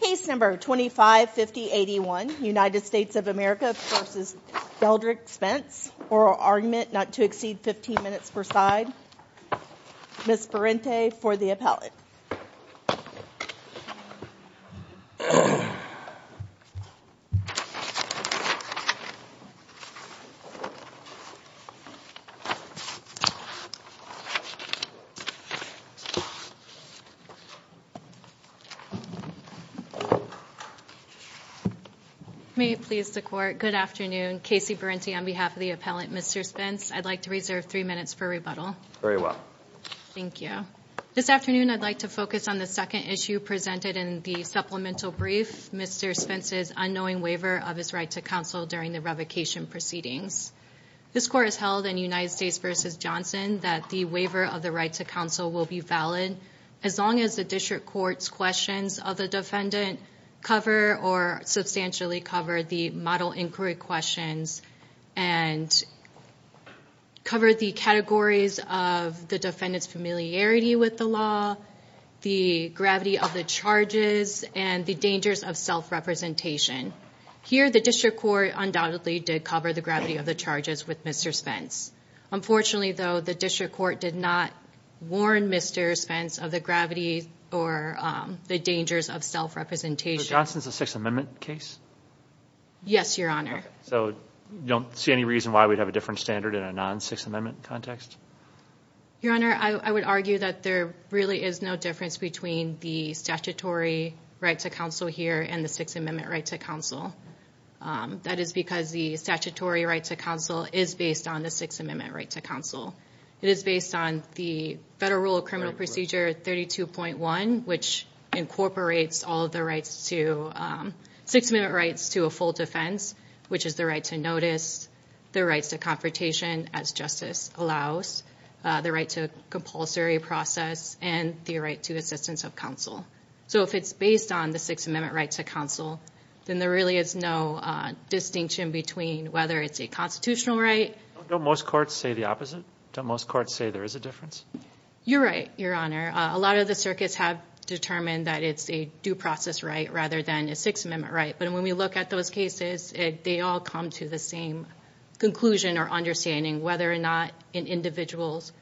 Case No. 25-5081, United States of America v. Deldrick Spence Oral Argument not to exceed 15 minutes per side Ms. Berente for the appellate May it please the court, good afternoon. Casey Berente on behalf of the appellate Mr. Spence. I'd like to reserve three minutes for rebuttal. Very well. Thank you. This afternoon I'd like to focus on the second issue presented in the supplemental brief, Mr. Spence's unknowing waiver of his right to counsel during the revocation proceedings. This court has held in United States v. Johnson that the waiver of the right to counsel will be valid as long as the district court's questions of the defendant cover or substantially cover the model inquiry questions and cover the categories of the defendant's familiarity with the law, the gravity of the charges, and the dangers of self-representation. Here, the district court undoubtedly did cover the gravity of the charges with Mr. Spence. Unfortunately, though, the district court did not warn Mr. Spence of the gravity or the dangers of self-representation. So Johnson's a Sixth Amendment case? Yes, Your Honor. So you don't see any reason why we'd have a different standard in a non-Sixth Amendment context? Your Honor, I would argue that there really is no difference between the statutory right to counsel here and the Sixth Amendment right to counsel. That is because the statutory right to counsel is based on the Sixth Amendment right to counsel. It is based on the Federal Rule of Criminal Procedure 32.1, which incorporates all of the Sixth Amendment rights to a full defense, which is the right to notice, the rights to confrontation as justice allows, the right to compulsory process, and the right to assistance of counsel. So if it's based on the Sixth Amendment right to counsel, then there really is no distinction between whether it's a constitutional right... Don't most courts say the opposite? Don't most courts say there is a difference? You're right, Your Honor. A lot of the circuits have determined that it's a due process right rather than a Sixth Amendment right. But when we look at those cases, they all come to the same conclusion or understanding, whether or not an individual's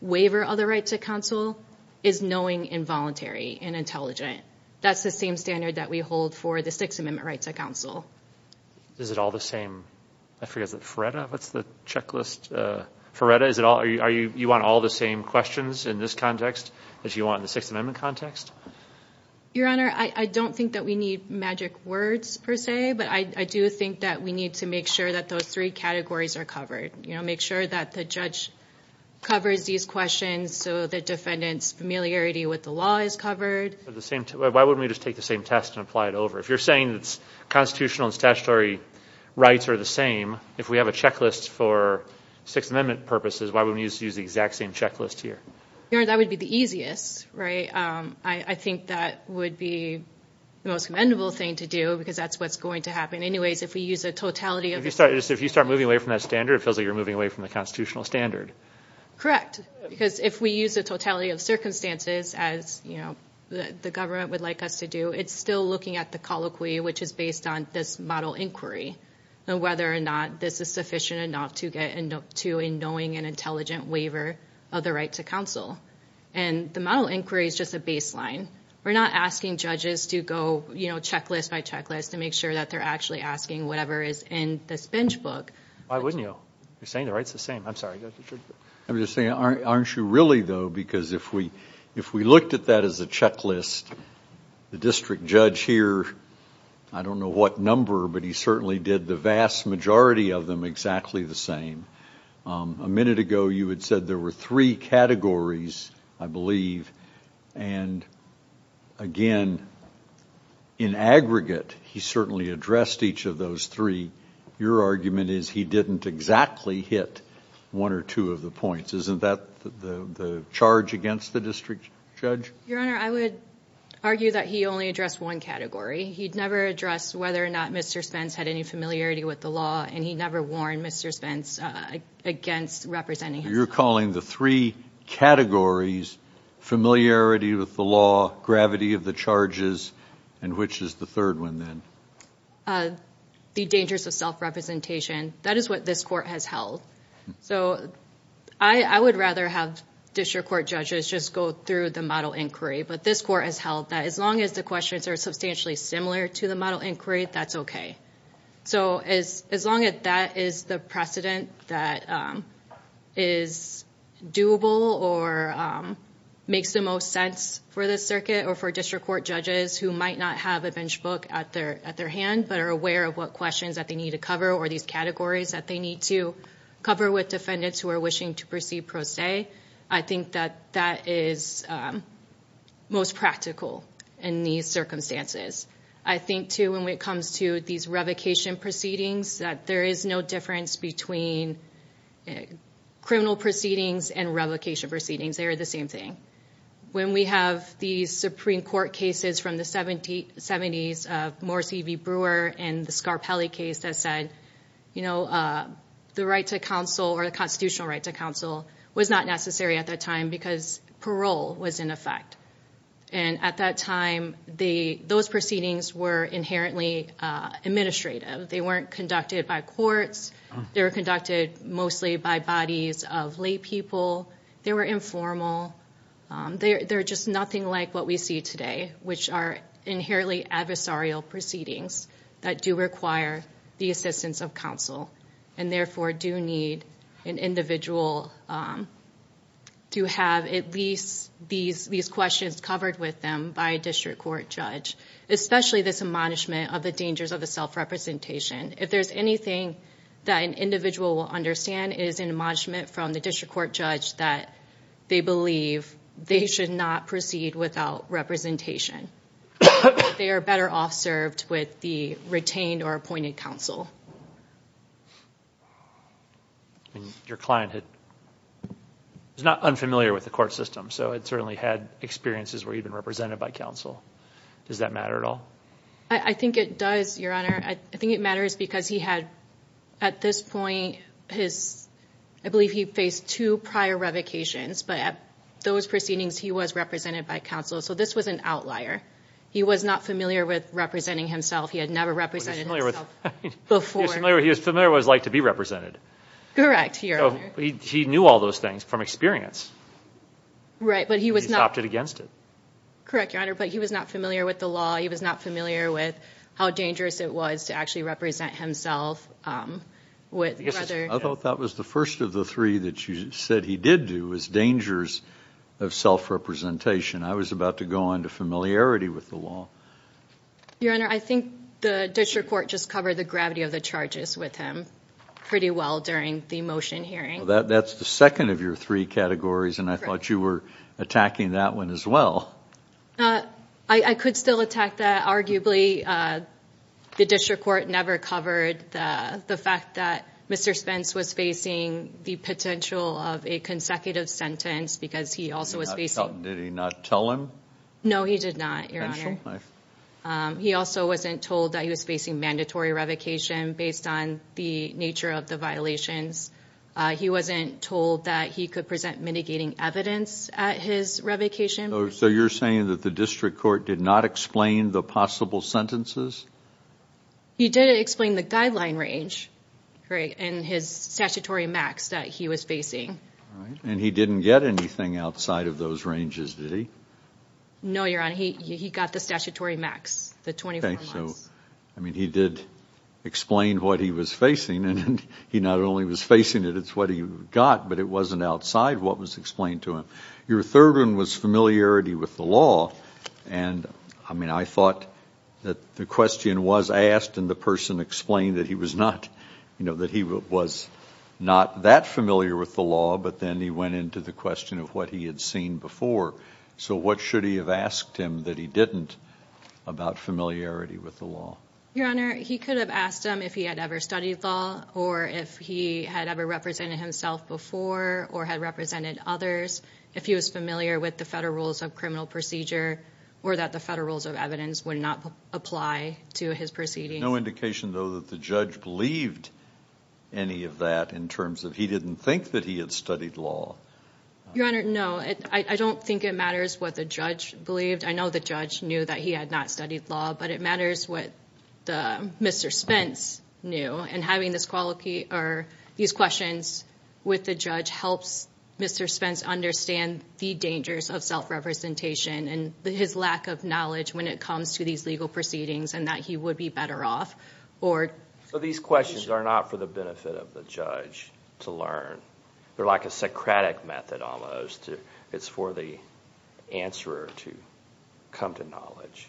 waiver of the right to counsel is knowing, involuntary, and intelligent. That's the same standard that we hold for the Sixth Amendment right to counsel. Is it all the same? I forget, is it FRERETA? What's the checklist? FRERETA? You want all the same questions in this context as you want in the Sixth Amendment context? Your Honor, I don't think that we need magic words per se, but I do think that we need to make sure that those three categories are covered. You know, make sure that the judge covers these questions so the defendant's familiarity with the law is covered. Why wouldn't we just take the same test and apply it over? If you're saying that constitutional and statutory rights are the same, if we have a checklist for Sixth Amendment purposes, why wouldn't we use the exact same checklist here? Your Honor, that would be the easiest, right? I think that would be the most commendable thing to do because that's what's going to happen. Anyways, if we use a totality of... If you start moving away from that standard, it feels like you're moving away from the constitutional standard. Correct, because if we use a totality of circumstances as the government would like us to do, it's still looking at the colloquy which is based on this model inquiry and whether or not this is sufficient enough to get to a knowing and intelligent waiver of the right to counsel. And the model inquiry is just a baseline. We're not asking judges to go checklist by checklist to make sure that they're actually asking whatever is in this bench book. Why wouldn't you? You're saying the right's the same. I'm sorry. I'm just saying, aren't you really, though? Because if we looked at that as a checklist, the district judge here, I don't know what number, but he certainly did the vast majority of them exactly the same. A minute ago, you had said there were three categories, I believe. And again, in aggregate, he certainly addressed each of those three. Your argument is he didn't exactly hit one or two of the points. Isn't that the charge against the district judge? Your Honor, I would argue that he only addressed one category. He'd never addressed whether or not Mr. Spence had any familiarity with the law, and he never warned Mr. Spence against representing him. You're calling the three categories familiarity with the law, gravity of the charges, and which is the third one then? The dangers of self-representation, that is what this court has held. So I would rather have district court judges just go through the model inquiry, but this court has held that as long as the questions are substantially similar to the model inquiry, that's okay. So as long as that is the precedent that is doable or makes the most sense for the circuit or for district court judges who might not have a bench book at their hand but are aware of what questions that they need to cover or these categories that they need to cover with defendants who are wishing to proceed pro se, I think that that is most practical in these circumstances. I think, too, when it comes to these revocation proceedings, that there is no difference between criminal proceedings and revocation proceedings. They are the same thing. When we have these Supreme Court cases from the 70s, Morris E.V. Brewer and the Scarpelli case that said, you know, the right to counsel or the constitutional right to counsel was not necessary at that time because parole was in effect. And at that time, those proceedings were inherently administrative. They weren't conducted by courts. They were conducted mostly by bodies of lay people. They were informal. They're just nothing like what we see today, which are inherently adversarial proceedings that do require the assistance of counsel and therefore do need an individual to have at least these questions covered with them by a district court judge, especially this admonishment of the dangers of the self-representation. If there's anything that an individual will understand, it is an admonishment from the district court judge that they believe they should not proceed without representation. They are better off served with the retained or appointed counsel. Your client is not unfamiliar with the court system, so it certainly had experiences where you've been represented by counsel. Does that matter at all? I think it does, Your Honor. I think it matters because he had, at this point, I believe he faced two prior revocations. But at those proceedings, he was represented by counsel. So this was an outlier. He was not familiar with representing himself. He had never represented himself before. He was familiar with what it was like to be represented. Correct, Your Honor. He knew all those things from experience. Right, but he was not. He opted against it. Correct, Your Honor. But he was not familiar with the law. He was not familiar with how dangerous it was to actually represent himself. I thought that was the first of the three that you said he did do, was dangers of self-representation. I was about to go on to familiarity with the law. Your Honor, I think the district court just covered the gravity of the charges with him pretty well during the motion hearing. That's the second of your three categories, and I thought you were attacking that one as well. I could still attack that. Arguably, the district court never covered the fact that Mr. Spence was facing the potential of a consecutive sentence because he also was facing. Did he not tell him? No, he did not, Your Honor. He also wasn't told that he was facing mandatory revocation based on the nature of the violations. He wasn't told that he could present mitigating evidence at his revocation. So you're saying that the district court did not explain the possible sentences? He did explain the guideline range and his statutory max that he was facing. All right. And he didn't get anything outside of those ranges, did he? No, Your Honor. He got the statutory max, the 24 months. So, I mean, he did explain what he was facing, and he not only was facing it, it's what he got, but it wasn't outside what was explained to him. Your third one was familiarity with the law, and, I mean, I thought that the question was asked and the person explained that he was not that familiar with the law, but then he went into the question of what he had seen before. So what should he have asked him that he didn't about familiarity with the law? Your Honor, he could have asked him if he had ever studied law or if he had ever represented himself before or had represented others, if he was familiar with the federal rules of criminal procedure or that the federal rules of evidence would not apply to his proceedings. No indication, though, that the judge believed any of that in terms of he didn't think that he had studied law. Your Honor, no. I don't think it matters what the judge believed. I know the judge knew that he had not studied law, but it matters what Mr. Spence knew, and having these questions with the judge helps Mr. Spence understand the dangers of self-representation and his lack of knowledge when it comes to these legal proceedings and that he would be better off. So these questions are not for the benefit of the judge to learn. They're like a Socratic method almost. It's for the answerer to come to knowledge.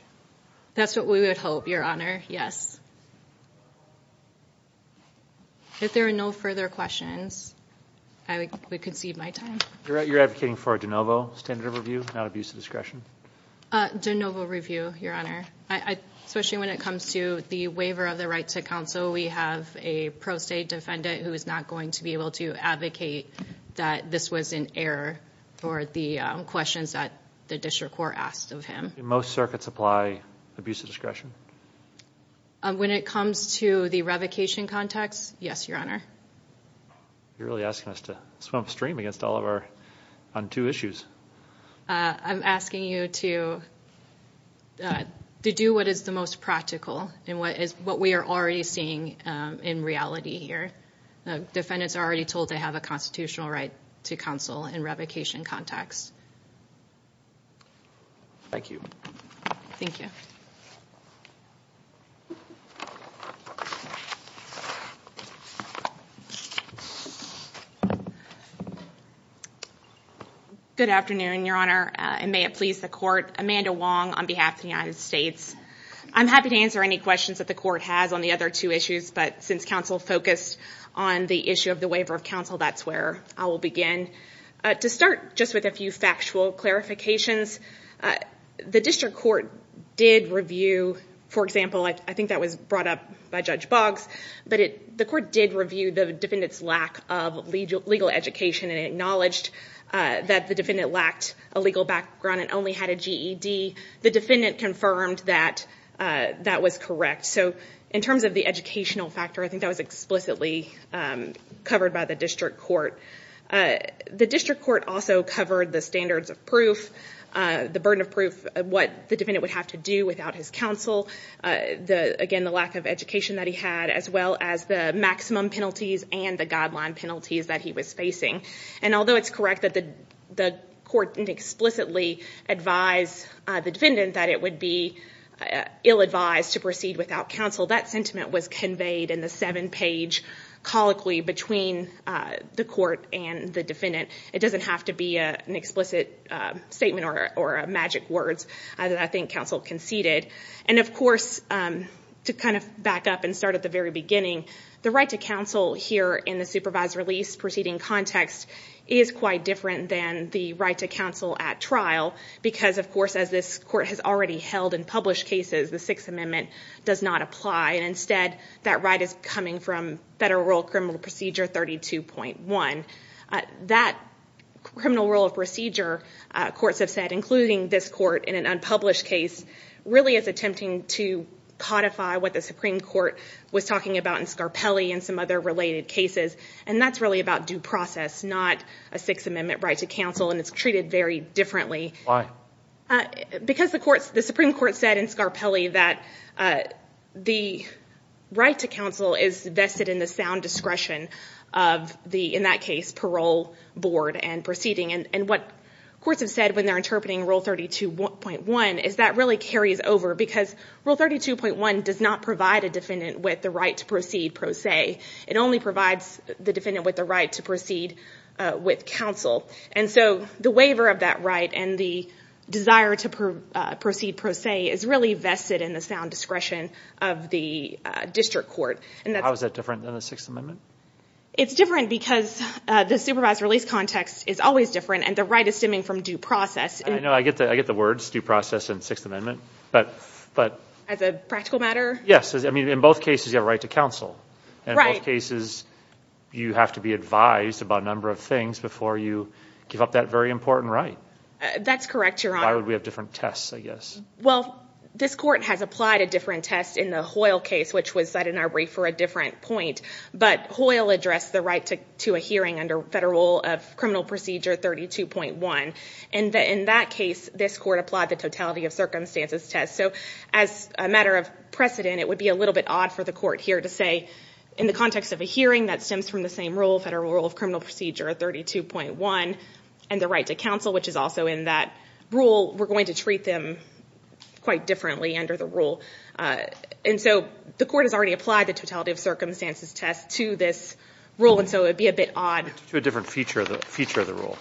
That's what we would hope, Your Honor, yes. If there are no further questions, I would concede my time. You're advocating for a de novo standard of review, not abuse of discretion? De novo review, Your Honor, especially when it comes to the waiver of the right to counsel. We have a pro se defendant who is not going to be able to advocate that this was an error for the questions that the district court asked of him. Do most circuits apply abuse of discretion? When it comes to the revocation context, yes, Your Honor. You're really asking us to swim upstream on two issues. I'm asking you to do what is the most practical and what we are already seeing in reality here. Defendants are already told they have a constitutional right to counsel in revocation context. Thank you. Thank you. Good afternoon, Your Honor, and may it please the court. Amanda Wong on behalf of the United States. I'm happy to answer any questions that the court has on the other two issues, but since counsel focused on the issue of the waiver of counsel, that's where I will begin. To start just with a few factual clarifications, the district court did review, for example, I think that was brought up by Judge Boggs, but the court did review the defendant's lack of legal education and acknowledged that the defendant lacked a legal background and only had a GED. The defendant confirmed that that was correct. In terms of the educational factor, I think that was explicitly covered by the district court. The district court also covered the standards of proof, the burden of proof, what the defendant would have to do without his counsel, again, the lack of education that he had, as well as the maximum penalties and the guideline penalties that he was facing. Although it's correct that the court didn't explicitly advise the defendant that it would be ill-advised to proceed without counsel, that sentiment was conveyed in the seven-page colloquy between the court and the defendant. It doesn't have to be an explicit statement or magic words that I think counsel conceded. Of course, to kind of back up and start at the very beginning, the right to counsel here in the supervised release proceeding context is quite different than the right to counsel at trial because, of course, as this court has already held in published cases, the Sixth Amendment does not apply. Instead, that right is coming from Federal Rule of Criminal Procedure 32.1. That criminal rule of procedure, courts have said, including this court in an unpublished case, really is attempting to codify what the Supreme Court was talking about in Scarpelli and some other related cases, and that's really about due process, not a Sixth Amendment right to counsel, and it's treated very differently. Why? Because the Supreme Court said in Scarpelli that the right to counsel is vested in the sound discretion of the, in that case, parole board and proceeding, and what courts have said when they're interpreting Rule 32.1 is that really carries over because Rule 32.1 does not provide a defendant with the right to proceed, per se. It only provides the defendant with the right to proceed with counsel. And so the waiver of that right and the desire to proceed, per se, is really vested in the sound discretion of the district court. How is that different than the Sixth Amendment? It's different because the supervised release context is always different, and the right is stemming from due process. I know. I get the words, due process and Sixth Amendment. As a practical matter? Yes. I mean, in both cases, you have a right to counsel. Right. In both cases, you have to be advised about a number of things before you give up that very important right. That's correct, Your Honor. Why would we have different tests, I guess? Well, this court has applied a different test in the Hoyle case, which was set in our brief for a different point, but Hoyle addressed the right to a hearing under Federal Criminal Procedure 32.1, and in that case, this court applied the totality of circumstances test. So as a matter of precedent, it would be a little bit odd for the court here to say, in the context of a hearing that stems from the same rule, Federal Rule of Criminal Procedure 32.1, and the right to counsel, which is also in that rule, we're going to treat them quite differently under the rule. And so the court has already applied the totality of circumstances test to this rule, and so it would be a bit odd. It's a different feature of the rule.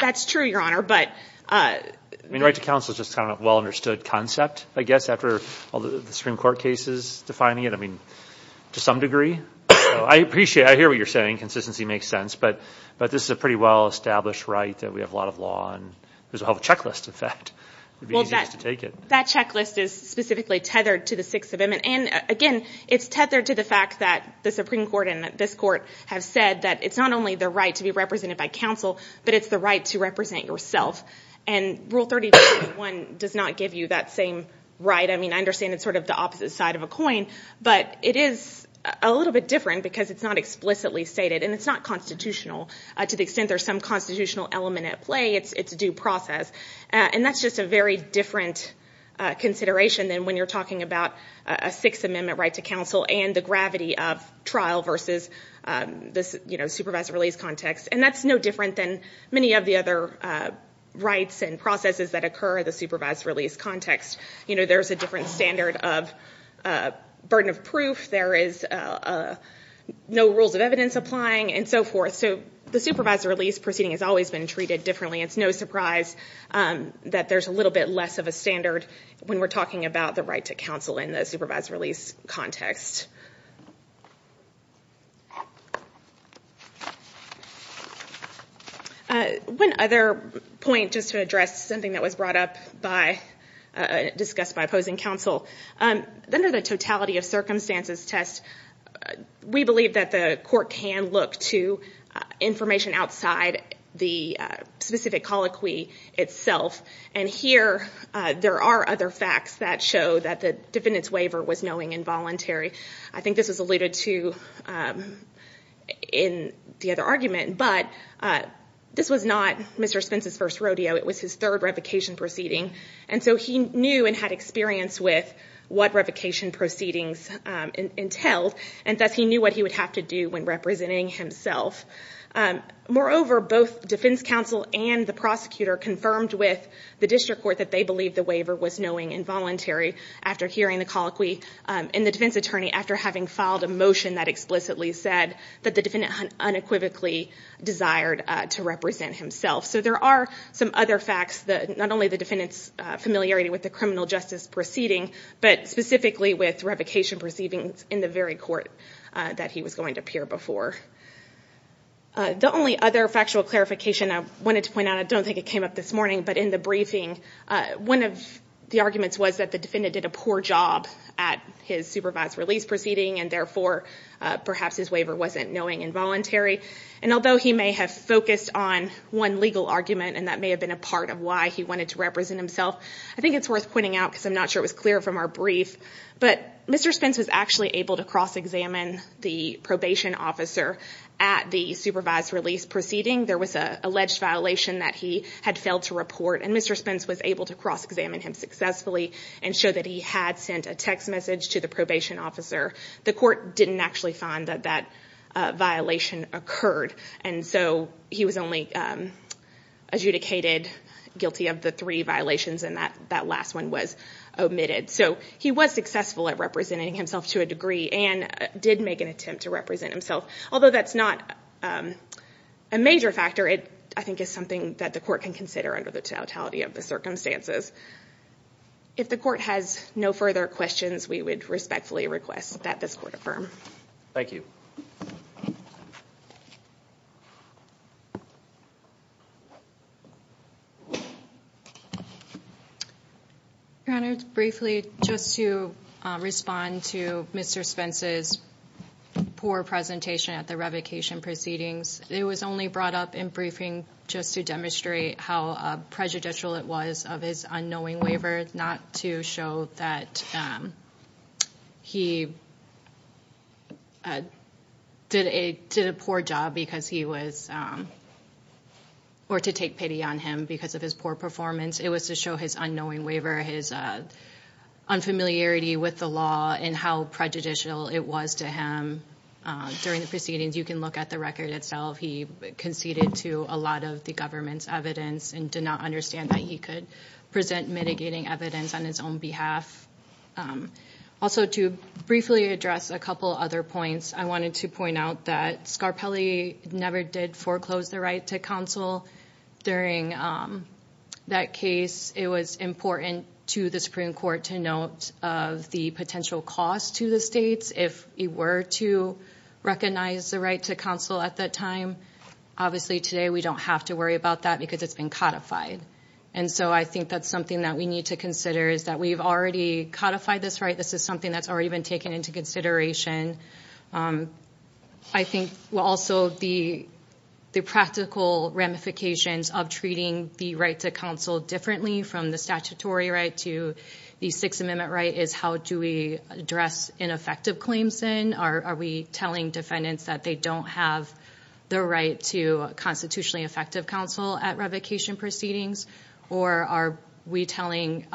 That's true, Your Honor. I mean, right to counsel is just kind of a well-understood concept, I guess, after all the Supreme Court cases defining it, I mean, to some degree. I appreciate it. I hear what you're saying. Consistency makes sense. But this is a pretty well-established right that we have a lot of law on. There's a whole checklist, in fact. It would be easiest to take it. That checklist is specifically tethered to the Sixth Amendment. And, again, it's tethered to the fact that the Supreme Court and this court have said that it's not only the right to be represented by counsel, but it's the right to represent yourself. And Rule 35.1 does not give you that same right. I mean, I understand it's sort of the opposite side of a coin, but it is a little bit different because it's not explicitly stated and it's not constitutional to the extent there's some constitutional element at play. It's a due process. And that's just a very different consideration than when you're talking about a Sixth Amendment right to counsel and the gravity of trial versus this supervised release context. And that's no different than many of the other rights and processes that occur in the supervised release context. You know, there's a different standard of burden of proof. There is no rules of evidence applying and so forth. So the supervised release proceeding has always been treated differently. It's no surprise that there's a little bit less of a standard when we're talking about the right to counsel in the supervised release context. One other point, just to address something that was brought up by, discussed by opposing counsel. Under the totality of circumstances test, we believe that the court can look to information outside the specific colloquy itself. And here, there are other facts that show that the defendant's waiver was knowing and voluntary. I think this was alluded to in the other argument, but this was not Mr. Spence's first rodeo. It was his third revocation proceeding. And so he knew and had experience with what revocation proceedings entailed, and thus he knew what he would have to do when representing himself. Moreover, both defense counsel and the prosecutor confirmed with the district court that they believed the waiver was knowing and voluntary after hearing the colloquy. And the defense attorney, after having filed a motion that explicitly said that the defendant unequivocally desired to represent himself. So there are some other facts, not only the defendant's familiarity with the criminal justice proceeding, but specifically with revocation proceedings in the very court that he was going to appear before. The only other factual clarification I wanted to point out, I don't think it came up this morning, but in the briefing, one of the arguments was that the defendant did a poor job at his supervised release proceeding, and therefore, perhaps his waiver wasn't knowing and voluntary. And although he may have focused on one legal argument, and that may have been a part of why he wanted to represent himself, I think it's worth pointing out, because I'm not sure it was clear from our brief, but Mr. Spence was actually able to cross-examine the probation officer at the supervised release proceeding. There was an alleged violation that he had failed to report, and Mr. Spence was able to cross-examine him successfully and show that he had sent a text message to the probation officer. The court didn't actually find that that violation occurred, and so he was only adjudicated guilty of the three violations, and that last one was omitted. So he was successful at representing himself to a degree, and did make an attempt to represent himself, although that's not a major factor. It, I think, is something that the court can consider under the totality of the circumstances. If the court has no further questions, we would respectfully request that this court affirm. Thank you. Your Honor, briefly, just to respond to Mr. Spence's poor presentation at the revocation proceedings, it was only brought up in briefing just to demonstrate how prejudicial it was of his unknowing waiver, not to show that he did a poor job because he was, or to take pity on him because of his poor performance. It was to show his unknowing waiver, his unfamiliarity with the law, and how prejudicial it was to him. During the proceedings, you can look at the record itself, he conceded to a lot of the government's evidence and did not understand that he could present mitigating evidence on his own behalf. Also, to briefly address a couple other points, I wanted to point out that Scarpelli never did foreclose the right to counsel. During that case, it was important to the Supreme Court to note the potential cost to the states if he were to recognize the right to counsel at that time. Obviously, today, we don't have to worry about that because it's been codified. And so I think that's something that we need to consider is that we've already codified this right. This is something that's already been taken into consideration. I think, well, also, the practical ramifications of treating the right to counsel differently from the statutory right to the Sixth Amendment right is how do we address ineffective claims then? Are we telling defendants that they don't have the right to constitutionally effective counsel at revocation proceedings? Or are we telling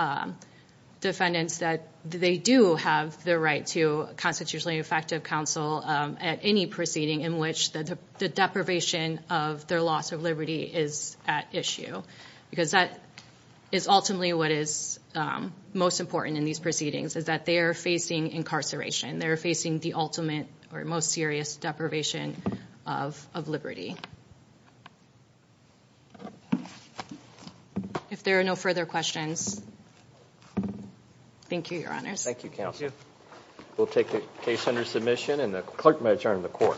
defendants that they do have the right to constitutionally effective counsel at any proceeding in which the deprivation of their loss of liberty is at issue? Because that is ultimately what is most important in these proceedings, is that they are facing incarceration. They are facing the ultimate or most serious deprivation of liberty. If there are no further questions, thank you, Your Honors. Thank you, Counsel. Thank you. We'll take the case under submission and the clerk may adjourn the court.